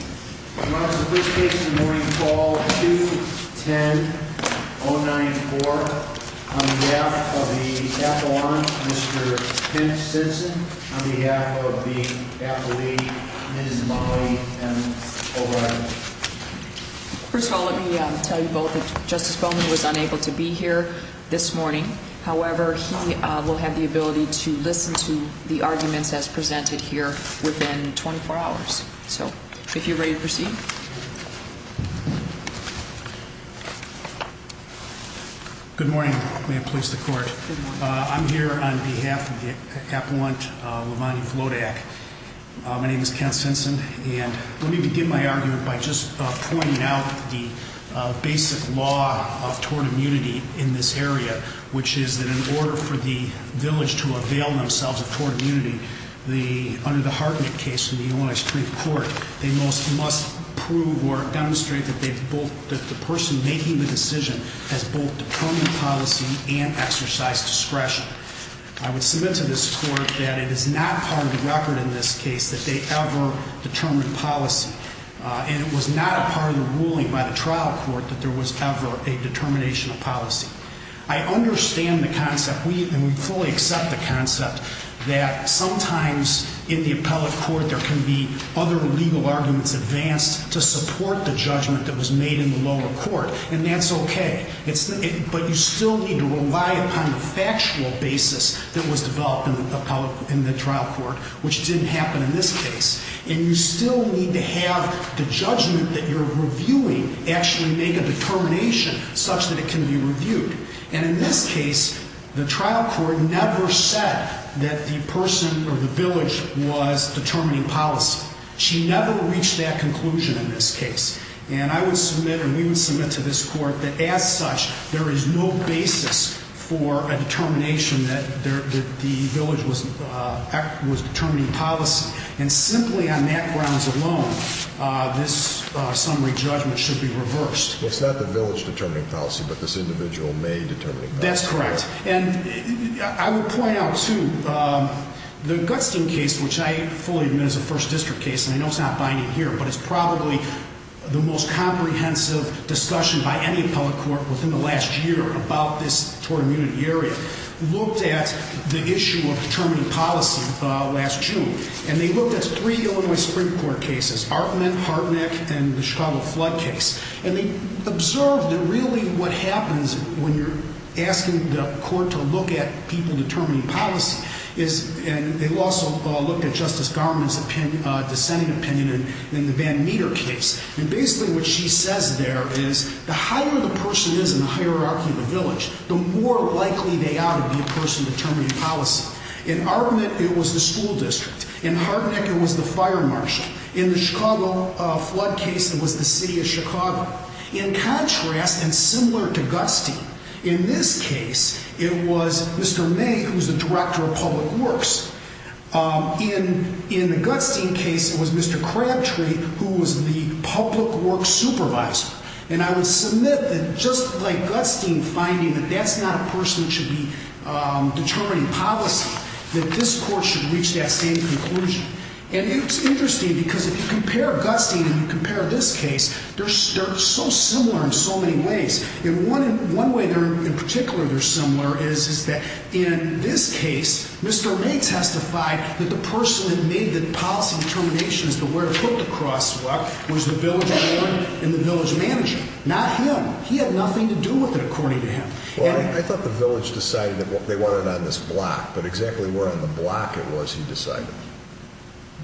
On behalf of the appellant, Mr. Pinch-Sinson, on behalf of the appellee, Ms. Molly M. O'Reilly. First of all, let me tell you both that Justice Bowman was unable to be here this morning. However, he will have the ability to listen to the arguments as presented here within 24 hours. So, if you're ready to proceed. Good morning. May it please the court. I'm here on behalf of the appellant, LeVon Vlodek. My name is Ken Sinson, and let me begin my argument by just pointing out the basic law of tort immunity in this area, which is that in order for the village to avail themselves of tort immunity, under the Hartnett case in the Illinois Supreme Court, they must prove or demonstrate that the person making the decision has both determined policy and exercised discretion. I would submit to this court that it is not part of the record in this case that they ever determined policy. And it was not a part of the ruling by the trial court that there was ever a determination of policy. I understand the concept, and we fully accept the concept, that sometimes in the appellate court, there can be other legal arguments advanced to support the judgment that was made in the lower court. And that's okay. But you still need to rely upon the factual basis that was developed in the trial court, which didn't happen in this case. And you still need to have the judgment that you're reviewing actually make a determination such that it can be reviewed. And in this case, the trial court never said that the person or the village was determining policy. She never reached that conclusion in this case. And I would submit or we would submit to this court that as such, there is no basis for a determination that the village was determining policy. And simply on that grounds alone, this summary judgment should be reversed. It's not the village determining policy, but this individual may determining policy. That's correct. And I would point out, too, the Gutstein case, which I fully admit is a first district case, and I know it's not binding here, but it's probably the most comprehensive discussion by any appellate court within the last year about this tort immunity area, looked at the issue of determining policy last June. And they looked at three Illinois Supreme Court cases, Hartnett, Hartnett, and the Chicago flood case. And they observed that really what happens when you're asking the court to look at people determining policy is, and they also looked at Justice Garment's dissenting opinion in the Van Meter case. And basically what she says there is the higher the person is in the hierarchy of the village, the more likely they ought to be a person determining policy. In Hartnett, it was the school district. In Hartnett, it was the fire marshal. In the Chicago flood case, it was the city of Chicago. In contrast and similar to Gutstein, in this case, it was Mr. May, who was the director of public works. In the Gutstein case, it was Mr. Crabtree, who was the public works supervisor. And I would submit that just like Gutstein finding that that's not a person who should be determining policy, that this court should reach that same conclusion. And it's interesting because if you compare Gutstein and you compare this case, they're so similar in so many ways. One way in particular they're similar is that in this case, Mr. May testified that the person who made the policy determination as to where to put the crosswalk was the village mayor and the village manager, not him. He had nothing to do with it, according to him. Well, I thought the village decided that they wanted it on this block, but exactly where on the block it was, he decided.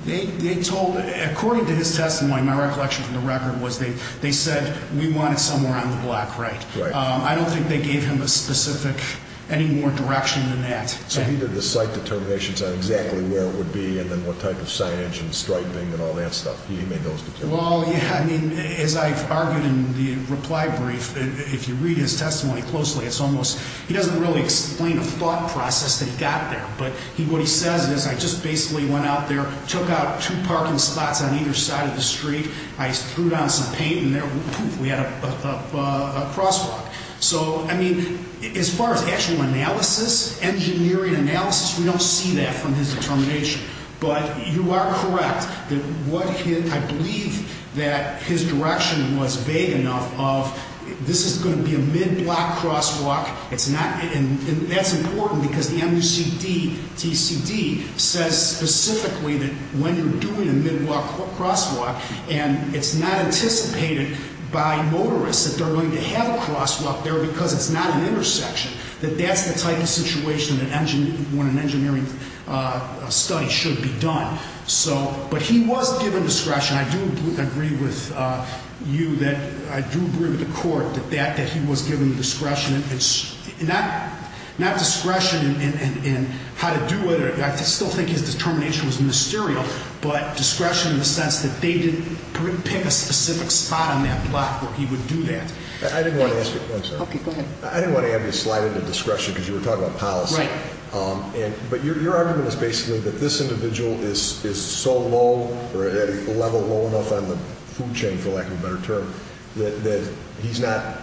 They told, according to his testimony, my recollection from the record was they said, we want it somewhere on the block, right? I don't think they gave him a specific, any more direction than that. So he did the site determinations on exactly where it would be and then what type of signage and striping and all that stuff. He made those determinations. Well, yeah, I mean, as I've argued in the reply brief, if you read his testimony closely, it's almost, he doesn't really explain the thought process that he got there. But what he says is, I just basically went out there, took out two parking spots on either side of the street. I threw down some paint and there, poof, we had a crosswalk. So, I mean, as far as actual analysis, engineering analysis, we don't see that from his determination. But you are correct that what he, I believe that his direction was vague enough of this is going to be a mid-block crosswalk. It's not, and that's important because the MUCD, TCD, says specifically that when you're doing a mid-block crosswalk and it's not anticipated by motorists that they're going to have a crosswalk there because it's not an intersection, that that's the type of situation when an engineering study should be done. So, but he was given discretion. I do agree with you that, I do agree with the court that he was given discretion. Not discretion in how to do it, I still think his determination was mysterious, but discretion in the sense that they didn't pick a specific spot on that block where he would do that. I didn't want to ask you, I'm sorry. Okay, go ahead. I didn't want to have you slide into discretion because you were talking about policy. Right. But your argument is basically that this individual is so low or at a level low enough on the food chain, for lack of a better term, that he's not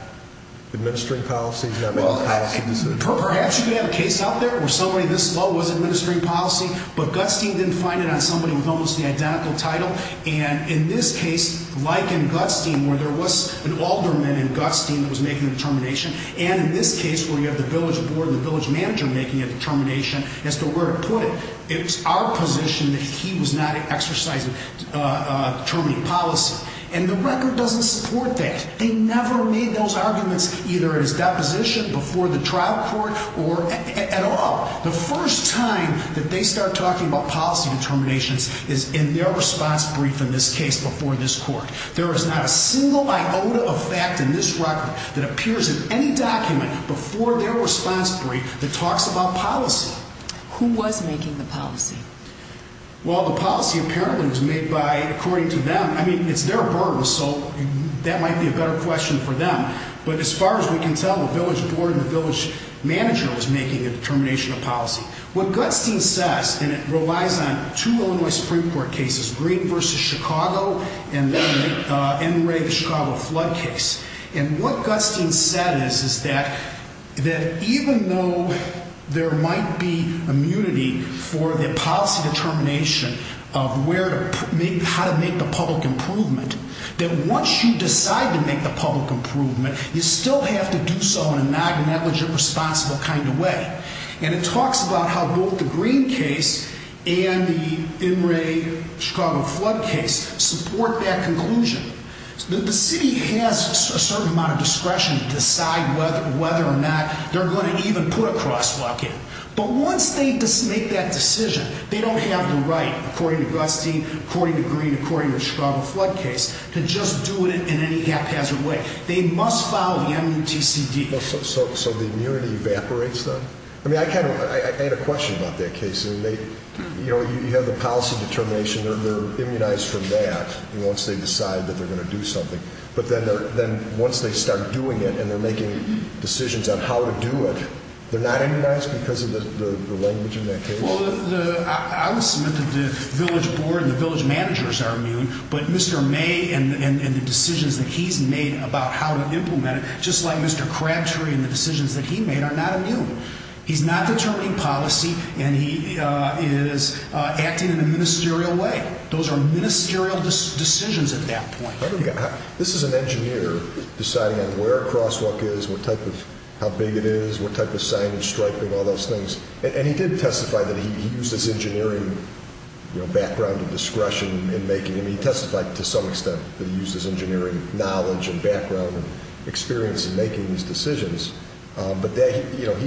administering policy, he's not making policy decisions. Perhaps you could have a case out there where somebody this low was administering policy, but Gutstein didn't find it on somebody with almost the identical title. And in this case, like in Gutstein, where there was an alderman in Gutstein that was making a determination, and in this case where you have the village board and the village manager making a determination as to where to put it, it's our position that he was not exercising, determining policy. And the record doesn't support that. They never made those arguments, either at his deposition, before the trial court, or at all. The first time that they start talking about policy determinations is in their response brief, in this case, before this court. There is not a single iota of fact in this record that appears in any document before their response brief that talks about policy. Who was making the policy? Well, the policy apparently was made by, according to them, I mean, it's their burden, so that might be a better question for them. But as far as we can tell, the village board and the village manager was making a determination of policy. What Gutstein says, and it relies on two Illinois Supreme Court cases, Green v. Chicago, and then NRA, the Chicago flood case. And what Gutstein said is that even though there might be immunity for the policy determination of how to make the public improvement, that once you decide to make the public improvement, you still have to do so in a non-negligent, responsible kind of way. And it talks about how both the Green case and the NRA Chicago flood case support that conclusion. The city has a certain amount of discretion to decide whether or not they're going to even put a crosswalk in. But once they make that decision, they don't have the right, according to Gutstein, according to Green, according to the Chicago flood case, to just do it in any haphazard way. They must follow the MUTCD. So the immunity evaporates then? I mean, I had a question about that case. You know, you have the policy determination. They're immunized from that once they decide that they're going to do something. But then once they start doing it and they're making decisions on how to do it, they're not immunized because of the language in that case? Well, obviously the village board and the village managers are immune, but Mr. May and the decisions that he's made about how to implement it, just like Mr. Crabtree and the decisions that he made, are not immune. He's not determining policy, and he is acting in a ministerial way. Those are ministerial decisions at that point. This is an engineer deciding on where a crosswalk is, what type of, how big it is, what type of signage, striping, all those things. And he did testify that he used his engineering background and discretion in making them. He testified to some extent that he used his engineering knowledge and background and experience in making these decisions. But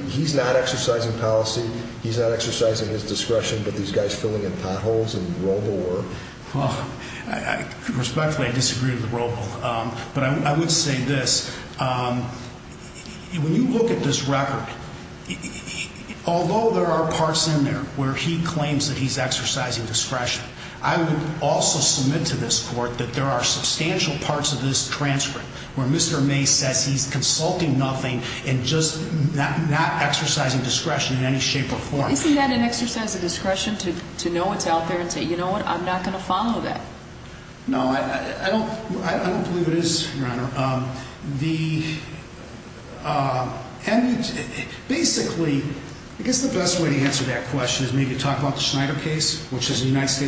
he's not exercising policy, he's not exercising his discretion, but these guys filling in potholes and robo-war. Well, respectfully, I disagree with the robo, but I would say this. When you look at this record, although there are parts in there where he claims that he's exercising discretion, I would also submit to this court that there are substantial parts of this transcript where Mr. May says he's consulting nothing and just not exercising discretion in any shape or form. Isn't that an exercise of discretion to know what's out there and say, you know what, I'm not going to follow that? No, I don't believe it is, Your Honor. Basically, I guess the best way to answer that question is maybe to talk about the Schneider case, which is an Illinois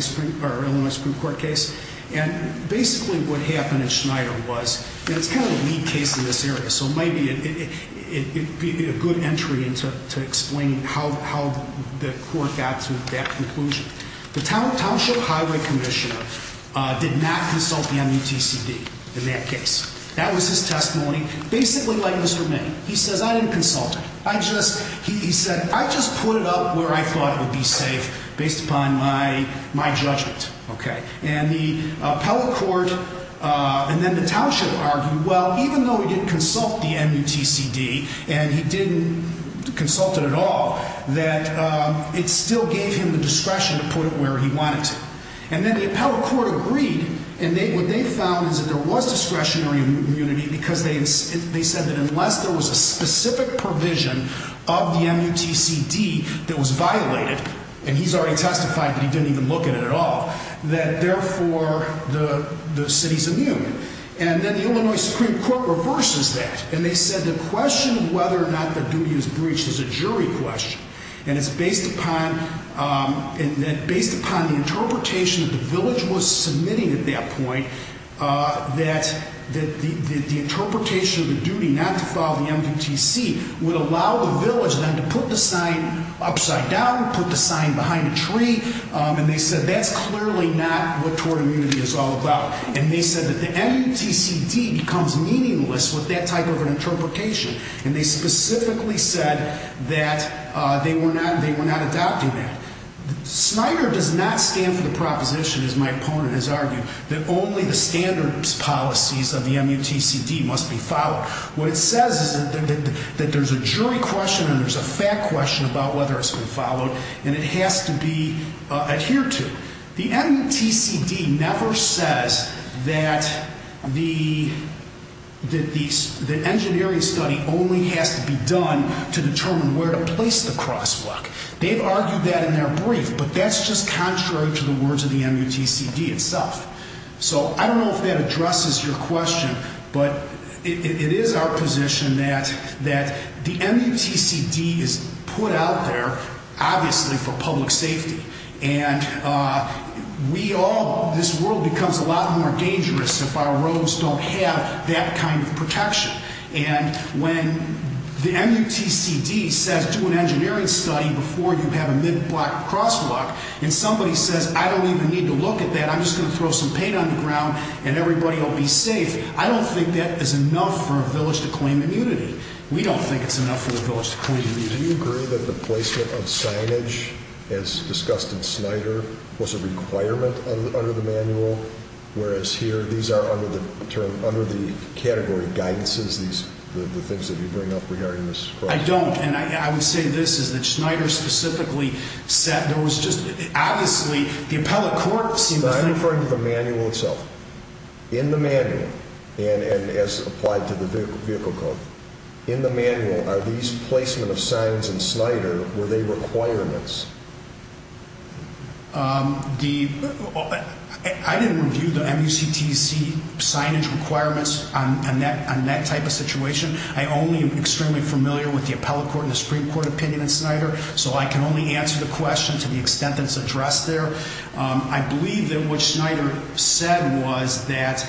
Supreme Court case. And basically what happened in Schneider was, and it's kind of a lead case in this area, so maybe it would be a good entry to explain how the court got to that conclusion. The Township Highway Commissioner did not consult the MUTCD in that case. That was his testimony, basically like Mr. May. He says, I didn't consult it. He said, I just put it up where I thought it would be safe based upon my judgment. And the appellate court and then the township argued, well, even though he didn't consult the MUTCD and he didn't consult it at all, that it still gave him the discretion to put it where he wanted to. And then the appellate court agreed, and what they found is that there was discretionary immunity because they said that unless there was a specific provision of the MUTCD that was violated, and he's already testified, but he didn't even look at it at all, that therefore the city's immune. And then the Illinois Supreme Court reverses that, and they said the question of whether or not the duty is breached is a jury question. And it's based upon the interpretation that the village was submitting at that point that the interpretation of the duty not to follow the MUTCD would allow the village then to put the sign upside down, put the sign behind a tree. And they said that's clearly not what tort immunity is all about. And they said that the MUTCD becomes meaningless with that type of an interpretation. And they specifically said that they were not adopting that. Snyder does not stand for the proposition, as my opponent has argued, that only the standards policies of the MUTCD must be followed. What it says is that there's a jury question and there's a fact question about whether it's been followed, and it has to be adhered to. The MUTCD never says that the engineering study only has to be done to determine where to place the crosswalk. They've argued that in their brief, but that's just contrary to the words of the MUTCD itself. So I don't know if that addresses your question, but it is our position that the MUTCD is put out there, obviously, for public safety. And we all, this world becomes a lot more dangerous if our roads don't have that kind of protection. And when the MUTCD says do an engineering study before you have a mid-block crosswalk, and somebody says I don't even need to look at that, I'm just going to throw some paint on the ground and everybody will be safe. I don't think that is enough for a village to claim immunity. We don't think it's enough for a village to claim immunity. Do you agree that the placement of signage, as discussed in Snyder, was a requirement under the manual, whereas here these are under the category guidances, the things that you bring up regarding this? I don't, and I would say this, is that Snyder specifically said there was just, obviously, the appellate court seemed to think... In the manual itself, in the manual, and as applied to the vehicle code, in the manual, are these placement of signs in Snyder, were they requirements? I didn't review the MUTCD signage requirements on that type of situation. I only am extremely familiar with the appellate court and the Supreme Court opinion in Snyder, so I can only answer the question to the extent that it's addressed there. I believe that what Snyder said was that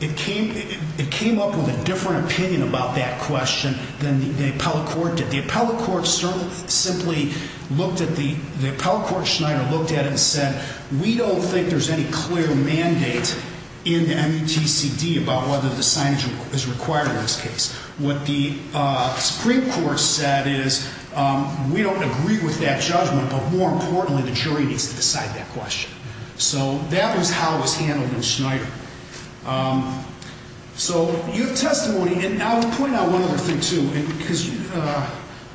it came up with a different opinion about that question than the appellate court did. The appellate court simply looked at the... The appellate court, Snyder, looked at it and said, we don't think there's any clear mandate in the MUTCD about whether the signage is required in this case. What the Supreme Court said is, we don't agree with that judgment, but more importantly, the jury needs to decide that question. So, that was how it was handled in Snyder. So, your testimony, and I would point out one other thing, too, because,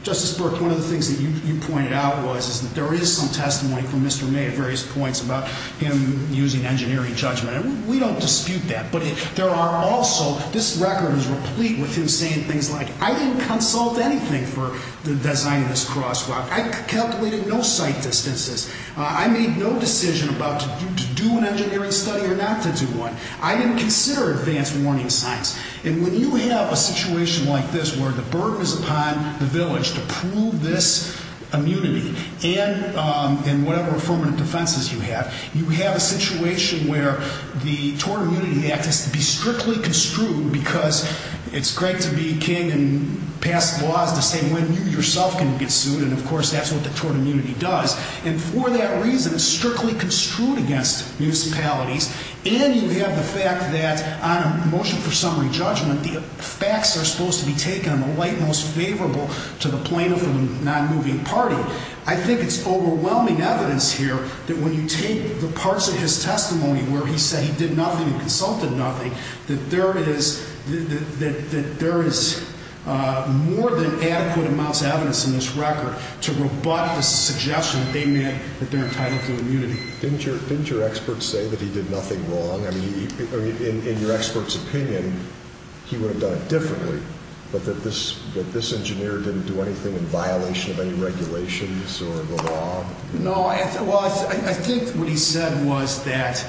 Justice Burke, one of the things that you pointed out was, is that there is some testimony from Mr. May at various points about him using engineering judgment. We don't dispute that, but there are also... This record is replete with him saying things like, I didn't consult anything for the design of this crosswalk. I calculated no sight distances. I made no decision about to do an engineering study or not to do one. I didn't consider advanced warning signs. And when you have a situation like this, where the burden is upon the village to prove this immunity, and whatever affirmative defenses you have, you have a situation where the Tort Immunity Act has to be strictly construed, because it's great to be king and pass laws to say when you yourself can get sued, and of course, that's what the Tort Immunity does. And for that reason, it's strictly construed against municipalities, and you have the fact that on a motion for summary judgment, the facts are supposed to be taken on the light most favorable to the plaintiff and the non-moving party. I think it's overwhelming evidence here that when you take the parts of his testimony where he said he did nothing and consulted nothing, that there is more than adequate amounts of evidence in this record to rebut the suggestion that they're entitled to immunity. Didn't your expert say that he did nothing wrong? I mean, in your expert's opinion, he would have done it differently, but that this engineer didn't do anything in violation of any regulations or the law? No, I think what he said was that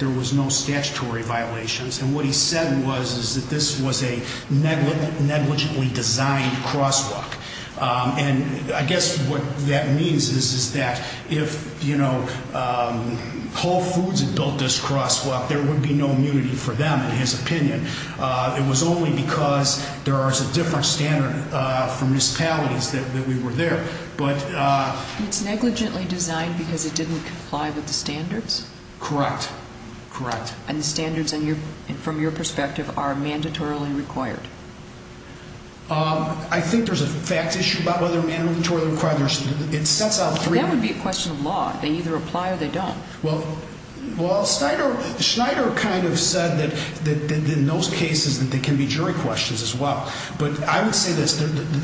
there was no statutory violations, and what he said was that this was a negligibly designed crosswalk. And I guess what that means is that if Whole Foods had built this crosswalk, there would be no immunity for them, in his opinion. It was only because there was a different standard from municipalities that we were there. It's negligently designed because it didn't comply with the standards? Correct, correct. And the standards, from your perspective, are mandatorily required? I think there's a fact issue about whether they're mandatorily required. That would be a question of law. They either apply or they don't. Well, Schneider kind of said that in those cases there can be jury questions as well. But I would say this.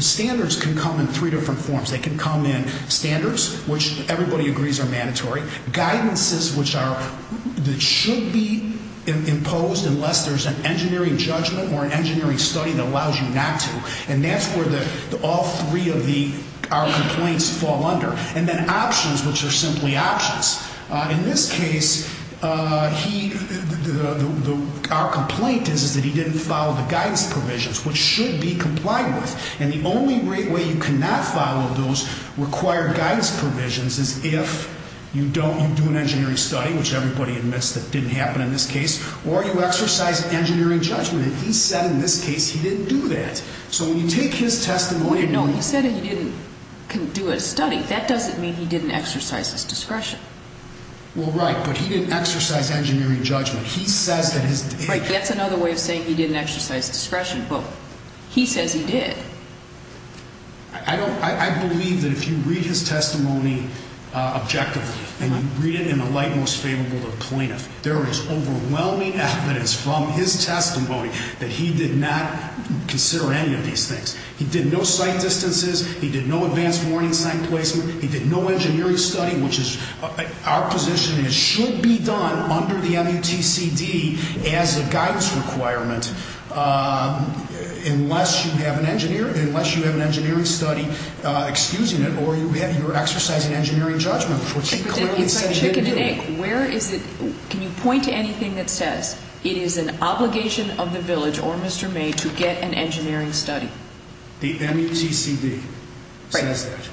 Standards can come in three different forms. They can come in standards, which everybody agrees are mandatory, guidances, which should be imposed unless there's an engineering judgment or an engineering study that allows you not to, and that's where all three of our complaints fall under, and then options, which are simply options. In this case, our complaint is that he didn't follow the guidance provisions, which should be complied with. And the only way you cannot follow those required guidance provisions is if you do an engineering study, which everybody admits that didn't happen in this case, or you exercise engineering judgment. He said in this case he didn't do that. No, he said he didn't do a study. That doesn't mean he didn't exercise his discretion. Well, right, but he didn't exercise engineering judgment. Right, that's another way of saying he didn't exercise discretion, but he says he did. I believe that if you read his testimony objectively and you read it in the light most favorable to the plaintiff, there is overwhelming evidence from his testimony that he did not consider any of these things. He did no sight distances. He did no advanced warning sign placement. He did no engineering study, which is our position. It should be done under the MUTCD as a guidance requirement unless you have an engineering study excusing it or you're exercising engineering judgment, which he clearly said he didn't do. Where is it? Can you point to anything that says it is an obligation of the village or Mr. May to get an engineering study? The MUTCD says that.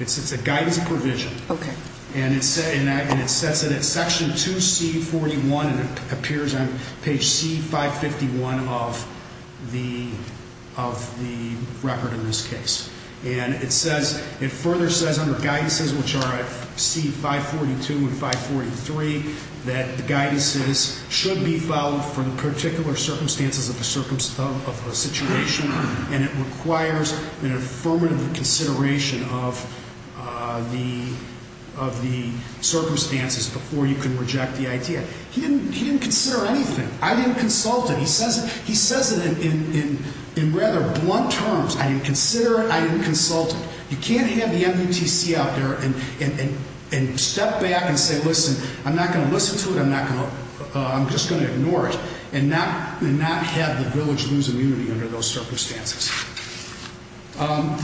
It's a guidance provision. Okay. And it sets it at section 2C41 and it appears on page C551 of the record in this case. And it further says under guidances, which are at C542 and 543, that the guidances should be followed for the particular circumstances of the situation and it requires an affirmative consideration of the circumstances before you can reject the idea. He didn't consider anything. I didn't consult it. He says it in rather blunt terms. I didn't consider it. I didn't consult it. You can't have the MUTCD out there and step back and say, listen, I'm not going to listen to it. I'm just going to ignore it and not have the village lose immunity under those circumstances. I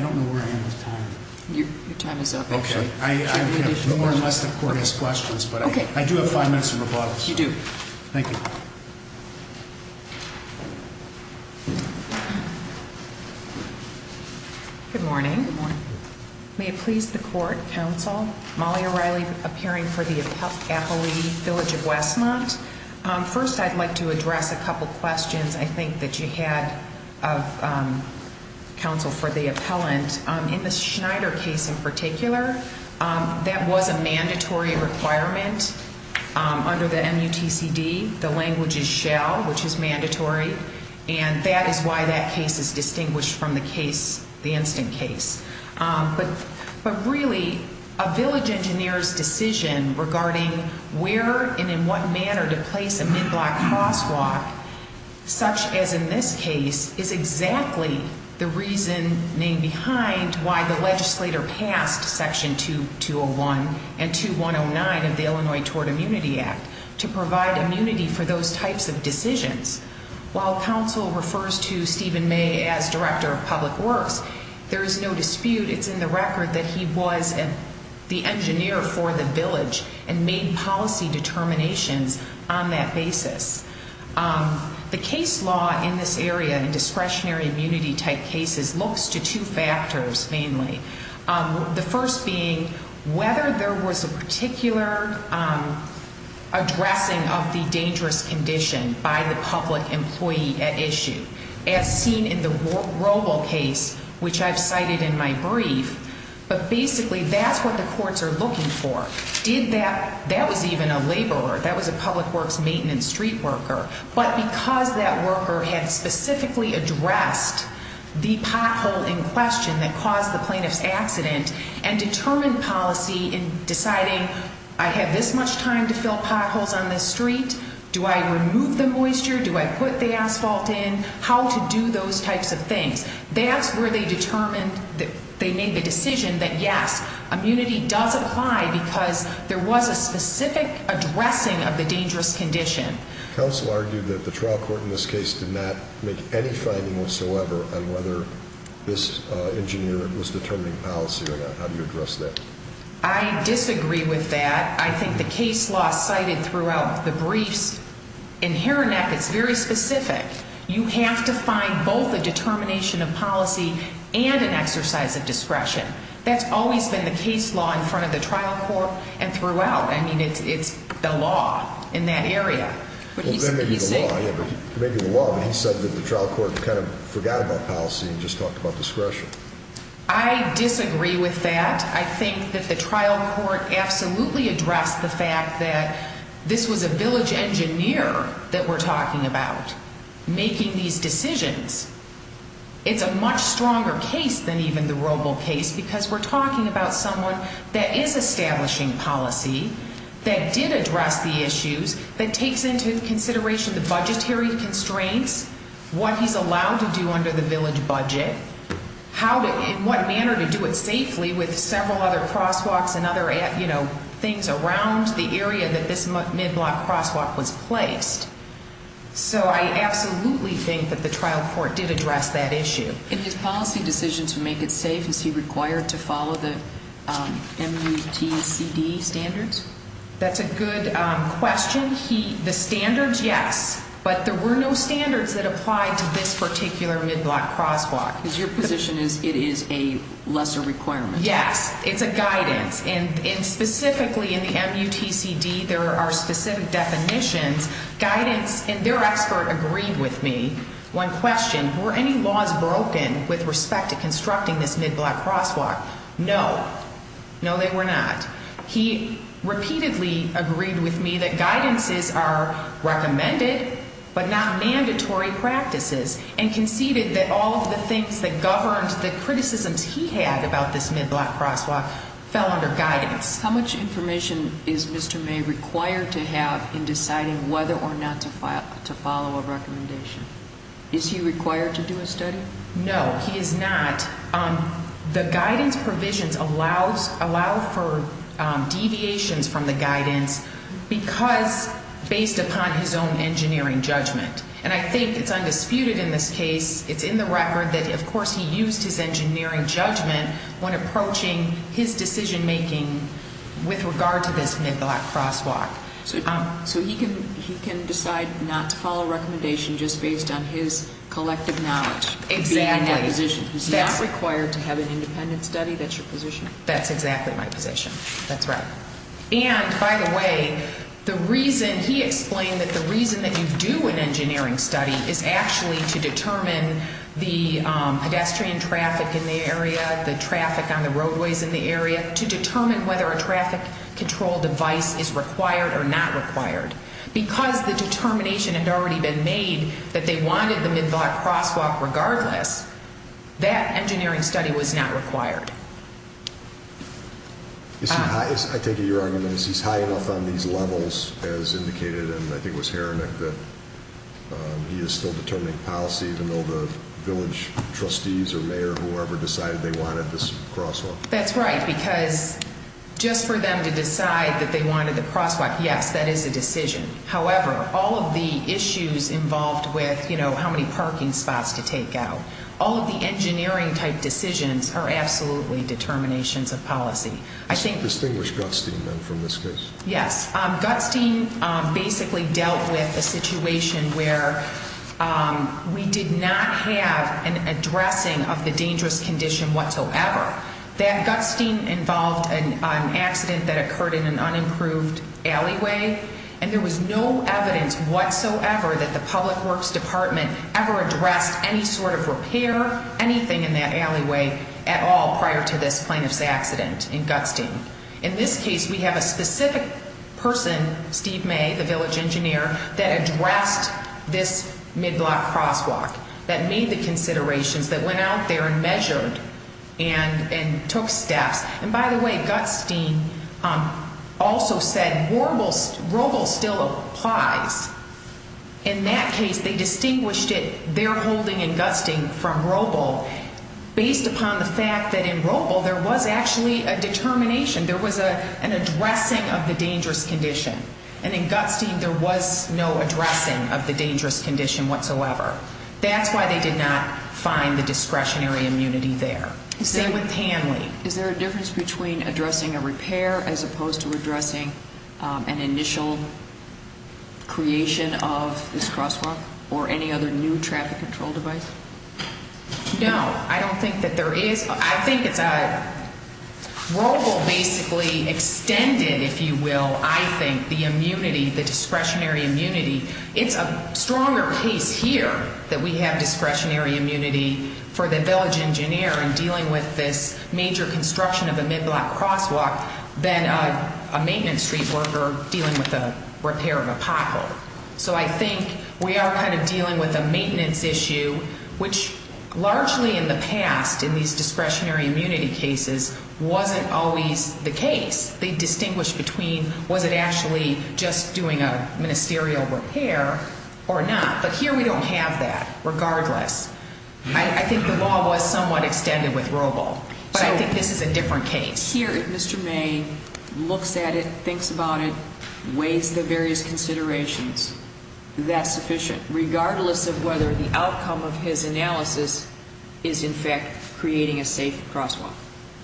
don't know where I am with time. Your time is up. Okay. I'm going to have more or less the court ask questions, but I do have five minutes of rebuttal. You do. Thank you. Good morning. Good morning. May it please the court, counsel, Molly O'Reilly, appearing for the appellee, Village of Westmont. First, I'd like to address a couple questions I think that you had, counsel, for the appellant. In the Schneider case in particular, that was a mandatory requirement under the MUTCD. The language is shall, which is mandatory. And that is why that case is distinguished from the case, the instant case. But really, a village engineer's decision regarding where and in what manner to place a mid-block crosswalk, such as in this case, is exactly the reasoning behind why the legislator passed Section 2-201 and 2-109 of the Illinois Toward Immunity Act to provide immunity for those types of decisions. While counsel refers to Stephen May as director of public works, there is no dispute. It's in the record that he was the engineer for the village and made policy determinations on that basis. The case law in this area in discretionary immunity-type cases looks to two factors, mainly. The first being whether there was a particular addressing of the dangerous condition by the public employee at issue, as seen in the Roble case, which I've cited in my brief. But basically, that's what the courts are looking for. That was even a laborer. That was a public works maintenance street worker. But because that worker had specifically addressed the pothole in question that caused the plaintiff's accident and determined policy in deciding, I have this much time to fill potholes on this street, do I remove the moisture, do I put the asphalt in, how to do those types of things. That's where they determined that they made the decision that, yes, immunity does apply because there was a specific addressing of the dangerous condition. The counsel argued that the trial court in this case did not make any finding whatsoever on whether this engineer was determining policy or not. How do you address that? I disagree with that. I think the case law cited throughout the briefs in Herrineck is very specific. You have to find both a determination of policy and an exercise of discretion. That's always been the case law in front of the trial court and throughout. I mean, it's the law in that area. Maybe the law, but he said that the trial court kind of forgot about policy and just talked about discretion. I disagree with that. I think that the trial court absolutely addressed the fact that this was a village engineer that we're talking about making these decisions. It's a much stronger case than even the Roble case because we're talking about someone that is establishing policy, that did address the issues, that takes into consideration the budgetary constraints, what he's allowed to do under the village budget, what manner to do it safely with several other crosswalks and other things around the area that this mid-block crosswalk was placed. So I absolutely think that the trial court did address that issue. In his policy decision to make it safe, is he required to follow the MUTCD standards? That's a good question. The standards, yes, but there were no standards that applied to this particular mid-block crosswalk. Because your position is it is a lesser requirement. Yes, it's a guidance. And specifically in the MUTCD, there are specific definitions. Guidance, and their expert agreed with me. One question, were any laws broken with respect to constructing this mid-block crosswalk? No. No, they were not. He repeatedly agreed with me that guidances are recommended but not mandatory practices and conceded that all of the things that governed the criticisms he had about this mid-block crosswalk fell under guidance. How much information is Mr. May required to have in deciding whether or not to follow a recommendation? Is he required to do a study? No, he is not. The guidance provisions allow for deviations from the guidance because, based upon his own engineering judgment. And I think it's undisputed in this case. It's in the record that, of course, he used his engineering judgment when approaching his decision-making with regard to this mid-block crosswalk. So he can decide not to follow a recommendation just based on his collective knowledge? Exactly. He's not required to have an independent study? That's your position? That's exactly my position. That's right. And, by the way, he explained that the reason that you do an engineering study is actually to determine the pedestrian traffic in the area, the traffic on the roadways in the area, to determine whether a traffic control device is required or not required. Because the determination had already been made that they wanted the mid-block crosswalk regardless, that engineering study was not required. I take it your argument is he's high enough on these levels, as indicated, and I think it was Heronic that he is still determining policy, even though the village trustees or mayor or whoever decided they wanted this crosswalk? That's right. Because just for them to decide that they wanted the crosswalk, yes, that is a decision. However, all of the issues involved with how many parking spots to take out, all of the engineering-type decisions are absolutely determinations of policy. Distinguish Gutstein, then, from this case? Yes. Gutstein basically dealt with a situation where we did not have an addressing of the dangerous condition whatsoever. That Gutstein involved an accident that occurred in an unimproved alleyway, and there was no evidence whatsoever that the Public Works Department ever addressed any sort of repair, anything in that alleyway at all prior to this plaintiff's accident in Gutstein. In this case, we have a specific person, Steve May, the village engineer, that addressed this mid-block crosswalk, that made the considerations, that went out there and measured and took steps. And, by the way, Gutstein also said Roble still applies. In that case, they distinguished their holding in Gutstein from Roble based upon the fact that in Roble there was actually a determination, there was an addressing of the dangerous condition, and in Gutstein there was no addressing of the dangerous condition whatsoever. That's why they did not find the discretionary immunity there. Same with Panley. Is there a difference between addressing a repair as opposed to addressing an initial creation of this crosswalk or any other new traffic control device? No. I don't think that there is. I think it's Roble basically extended, if you will, I think, the immunity, the discretionary immunity. It's a stronger case here that we have discretionary immunity for the village engineer in dealing with this major construction of a mid-block crosswalk than a maintenance street worker dealing with the repair of a pothole. So I think we are kind of dealing with a maintenance issue, which largely in the past in these discretionary immunity cases wasn't always the case. They distinguished between was it actually just doing a ministerial repair or not. But here we don't have that regardless. I think the law was somewhat extended with Roble, but I think this is a different case. So here if Mr. May looks at it, thinks about it, weighs the various considerations, that's sufficient, regardless of whether the outcome of his analysis is in fact creating a safe crosswalk?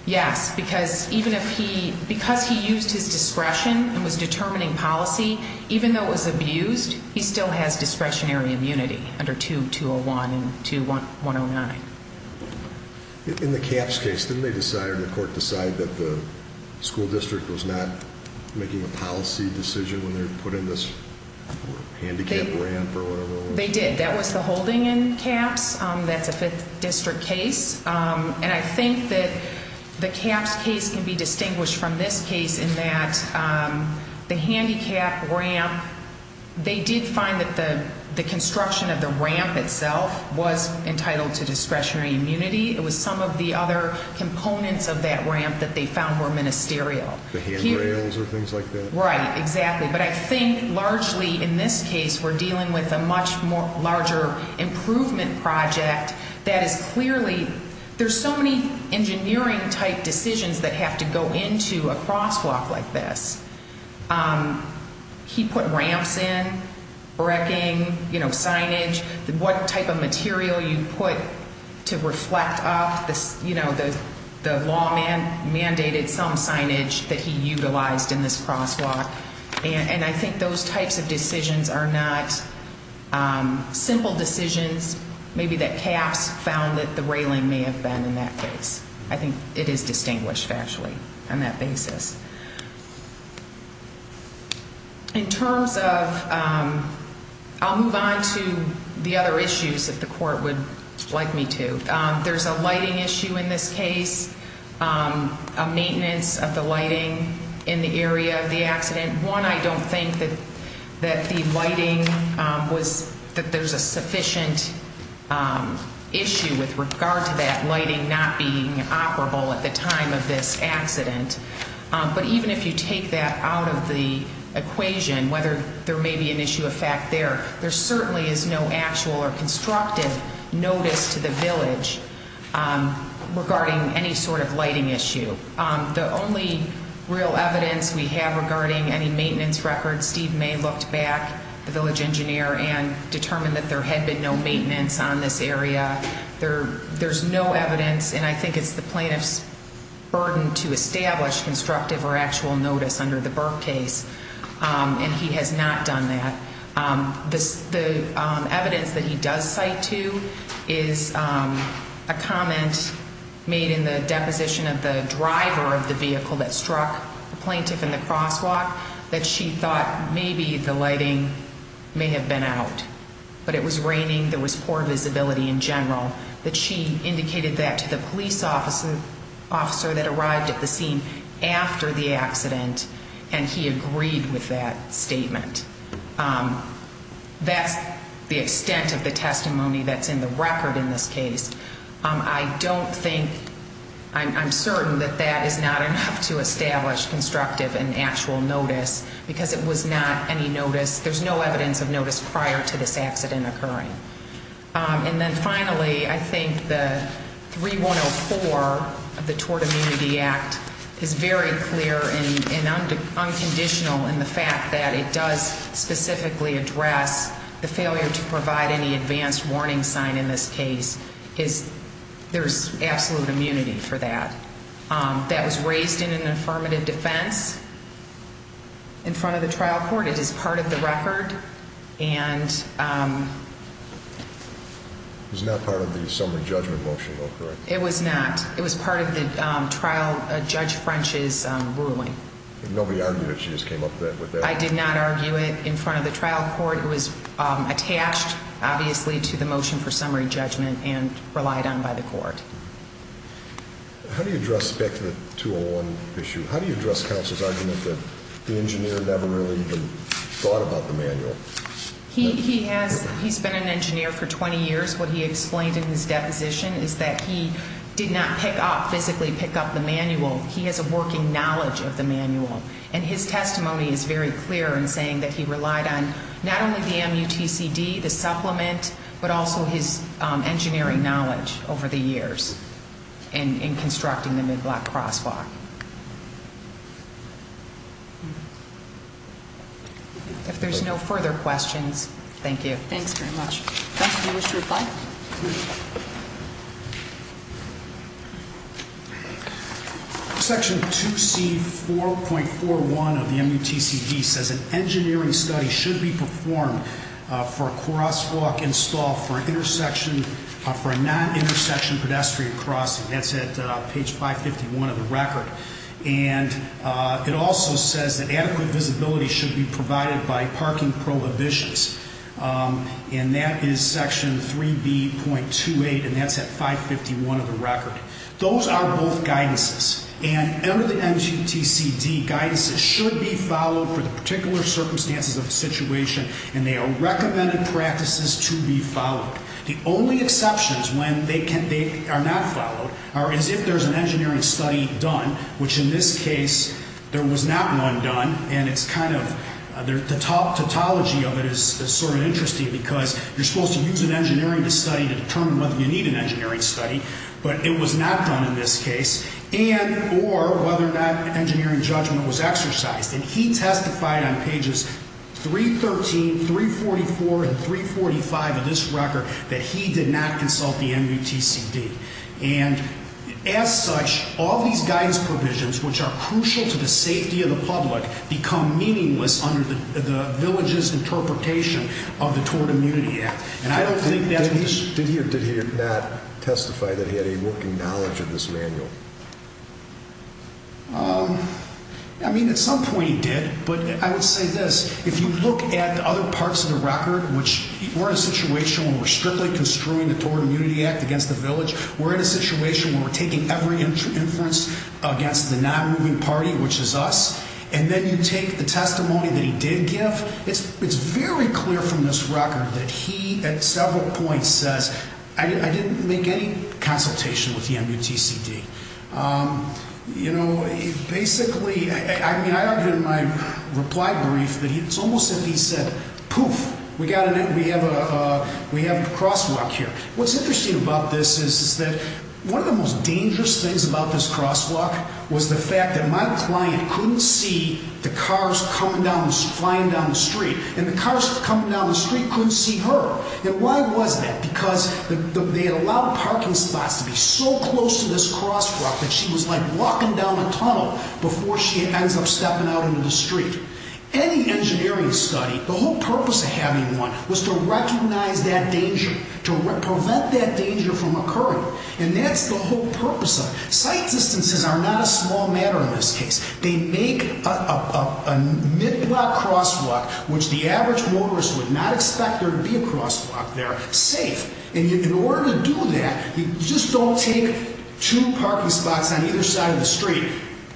Yes, because even if he, because he used his discretion and was determining policy, even though it was abused, he still has discretionary immunity under 2.201 and 2.109. In the Capps case, didn't they decide or the court decide that the school district was not making a policy decision when they were putting this handicap ramp or whatever it was? They did. That was the holding in Capps. That's a 5th district case. And I think that the Capps case can be distinguished from this case in that the handicap ramp, they did find that the construction of the ramp itself was entitled to discretionary immunity. It was some of the other components of that ramp that they found were ministerial. The handrails or things like that? Right, exactly. But I think largely in this case we're dealing with a much larger improvement project that is clearly, there's so many engineering type decisions that have to go into a crosswalk like this. He put ramps in, wrecking, you know, signage. What type of material you put to reflect up, you know, the law mandated some signage that he utilized in this crosswalk. And I think those types of decisions are not simple decisions, maybe that Capps found that the railing may have been in that case. I think it is distinguished, actually, on that basis. In terms of, I'll move on to the other issues that the court would like me to. There's a lighting issue in this case, a maintenance of the lighting in the area of the accident. One, I don't think that the lighting was, that there's a sufficient issue with regard to that lighting not being operable at the time of this accident. But even if you take that out of the equation, whether there may be an issue of fact there, there certainly is no actual or constructive notice to the village regarding any sort of lighting issue. The only real evidence we have regarding any maintenance records, Steve May looked back, the village engineer, and determined that there had been no maintenance on this area. There's no evidence, and I think it's the plaintiff's burden to establish constructive or actual notice under the Burke case. And he has not done that. The evidence that he does cite to is a comment made in the deposition of the driver of the vehicle that struck the plaintiff in the crosswalk that she thought maybe the lighting may have been out. But it was raining, there was poor visibility in general, that she indicated that to the police officer that arrived at the scene after the accident, and he agreed with that statement. That's the extent of the testimony that's in the record in this case. I don't think, I'm certain that that is not enough to establish constructive and actual notice, because it was not any notice, there's no evidence of notice prior to this accident occurring. And then finally, I think the 3104 of the Tort Immunity Act is very clear and unconditional in the fact that it does specifically address the failure to provide any advanced warning sign in this case. There's absolute immunity for that. That was raised in an affirmative defense in front of the trial court. It is part of the record, and... It was not part of the summary judgment motion, though, correct? It was not. It was part of the trial judge French's ruling. Nobody argued it, she just came up with that? I did not argue it in front of the trial court. It was attached, obviously, to the motion for summary judgment and relied on by the court. How do you address back to the 201 issue? How do you address counsel's argument that the engineer never really even thought about the manual? He's been an engineer for 20 years. What he explained in his deposition is that he did not pick up, physically pick up the manual. He has a working knowledge of the manual. And his testimony is very clear in saying that he relied on not only the MUTCD, the supplement, but also his engineering knowledge over the years in constructing the mid-block crosswalk. If there's no further questions, thank you. Thanks very much. Counsel, do you wish to reply? Section 2C.4.41 of the MUTCD says an engineering study should be performed for a crosswalk installed for a non-intersection pedestrian crossing. That's at page 551 of the record. And it also says that adequate visibility should be provided by parking prohibitions. And that is section 3B.28, and that's at 551 of the record. Those are both guidances. And under the MUTCD, guidances should be followed for the particular circumstances of the situation, and they are recommended practices to be followed. The only exceptions when they are not followed are as if there's an engineering study done, which in this case, there was not one done. And it's kind of the top tautology of it is sort of interesting because you're supposed to use an engineering study to determine whether you need an engineering study. But it was not done in this case. And or whether or not engineering judgment was exercised. And he testified on pages 313, 344, and 345 of this record that he did not consult the MUTCD. And as such, all these guidance provisions, which are crucial to the safety of the public, become meaningless under the village's interpretation of the Tort Immunity Act. And I don't think that's the case. Did he or did he not testify that he had a working knowledge of this manual? I mean, at some point he did. But I would say this. If you look at the other parts of the record, which we're in a situation where we're strictly construing the Tort Immunity Act against the village. We're in a situation where we're taking every inference against the non-moving party, which is us. And then you take the testimony that he did give. It's very clear from this record that he, at several points, says, I didn't make any consultation with the MUTCD. You know, basically, I mean, I argued in my reply brief that it's almost as if he said, poof, we have a crosswalk here. What's interesting about this is that one of the most dangerous things about this crosswalk was the fact that my client couldn't see the cars coming down, flying down the street. And the cars coming down the street couldn't see her. And why was that? Because they had allowed parking spots to be so close to this crosswalk that she was like walking down a tunnel before she ends up stepping out into the street. Any engineering study, the whole purpose of having one was to recognize that danger, to prevent that danger from occurring. And that's the whole purpose of it. Sight distances are not a small matter in this case. They make a mid-block crosswalk, which the average motorist would not expect there to be a crosswalk there, safe. And in order to do that, you just don't take two parking spots on either side of the street,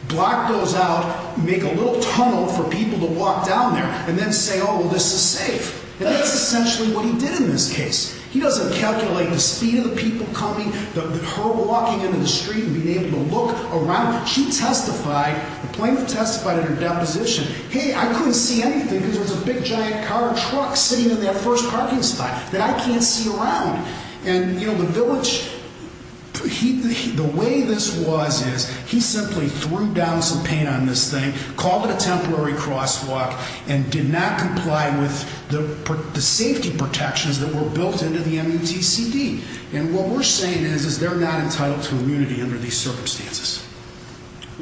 block those out, make a little tunnel for people to walk down there, and then say, oh, well, this is safe. And that's essentially what he did in this case. He doesn't calculate the speed of the people coming, her walking into the street and being able to look around. She testified, the plaintiff testified in her deposition, hey, I couldn't see anything because there was a big giant car or truck sitting in that first parking spot that I can't see around. And, you know, the village, the way this was is he simply threw down some paint on this thing, called it a temporary crosswalk, and did not comply with the safety protections that were built into the MUTCD. And what we're saying is they're not entitled to immunity under these circumstances.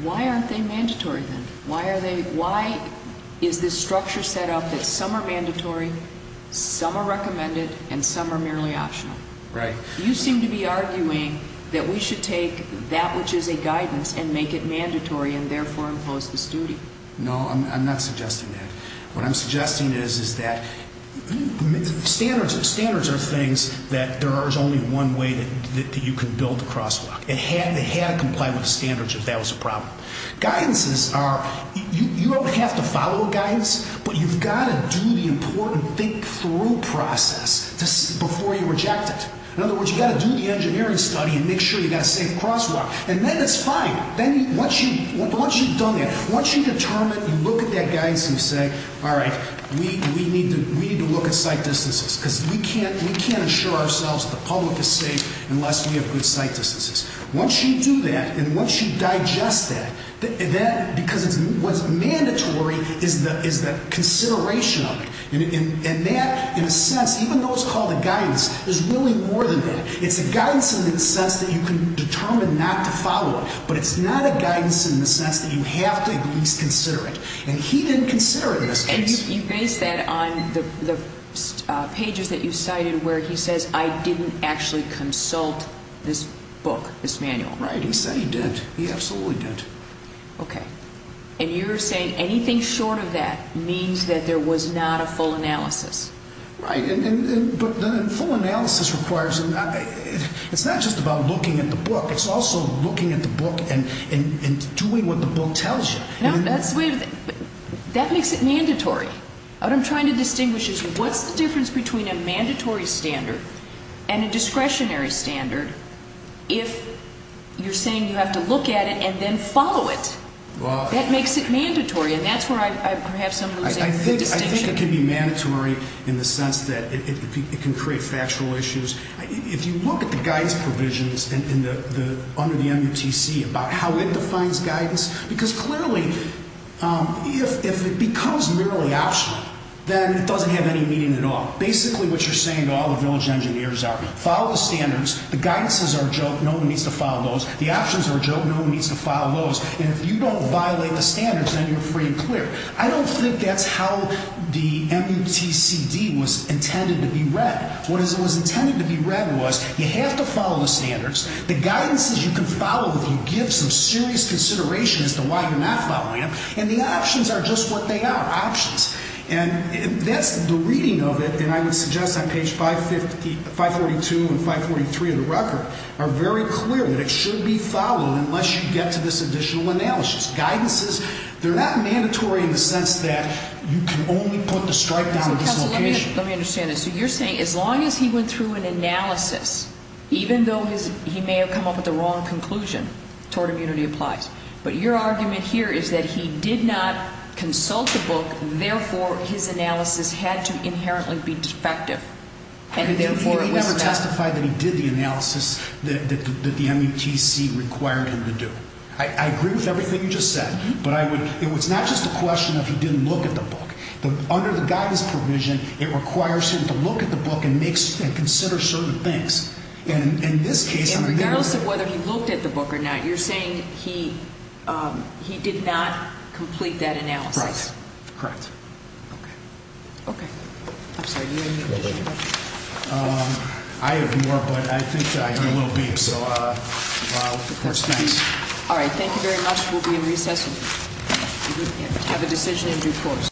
Why aren't they mandatory, then? Why is this structure set up that some are mandatory, some are recommended, and some are merely optional? Right. You seem to be arguing that we should take that which is a guidance and make it mandatory and therefore impose this duty. No, I'm not suggesting that. What I'm suggesting is that standards are things that there is only one way that you can build a crosswalk. It had to comply with the standards if that was a problem. Guidances are, you don't have to follow guidance, but you've got to do the important think-through process before you reject it. In other words, you've got to do the engineering study and make sure you've got a safe crosswalk. And then it's fine. Once you've done that, once you determine, you look at that guidance and you say, all right, we need to look at sight distances because we can't assure ourselves that the public is safe unless we have good sight distances. Once you do that and once you digest that, because what's mandatory is the consideration of it. And that, in a sense, even though it's called a guidance, there's really more than that. It's a guidance in the sense that you can determine not to follow it, but it's not a guidance in the sense that you have to at least consider it. And he didn't consider it in this case. And you base that on the pages that you cited where he says, I didn't actually consult this book, this manual. Right. He said he did. He absolutely did. Okay. And you're saying anything short of that means that there was not a full analysis. Right. But a full analysis requires, it's not just about looking at the book. It's also looking at the book and doing what the book tells you. That makes it mandatory. What I'm trying to distinguish is what's the difference between a mandatory standard and a discretionary standard if you're saying you have to look at it and then follow it? That makes it mandatory. And that's where I perhaps am losing the distinction. I think it can be mandatory in the sense that it can create factual issues. If you look at the guidance provisions under the MUTC about how it defines guidance, because clearly if it becomes merely optional, then it doesn't have any meaning at all. Basically what you're saying to all the village engineers are, follow the standards. The guidances are a joke. No one needs to follow those. The options are a joke. No one needs to follow those. And if you don't violate the standards, then you're free and clear. I don't think that's how the MUTCD was intended to be read. What it was intended to be read was you have to follow the standards. The guidances you can follow if you give some serious consideration as to why you're not following them. And the options are just what they are, options. And that's the reading of it, and I would suggest on page 542 and 543 of the record are very clear that it should be followed unless you get to this additional analysis. Guidances, they're not mandatory in the sense that you can only put the strike down at this location. Counsel, let me understand this. So you're saying as long as he went through an analysis, even though he may have come up with the wrong conclusion, tort immunity applies. But your argument here is that he did not consult the book, therefore his analysis had to inherently be defective. He never testified that he did the analysis that the MUTC required him to do. I agree with everything you just said. But it's not just a question of he didn't look at the book. Under the guidance provision, it requires him to look at the book and consider certain things. And in this case, I'm going to look at the book. Regardless of whether he looked at the book or not, you're saying he did not complete that analysis. Correct. Okay. Okay. I'm sorry. Do you have any additional questions? I have more, but I think I hear a little beep. So, of course, thanks. All right. Thank you very much. We'll be in recess. Have a decision in due course.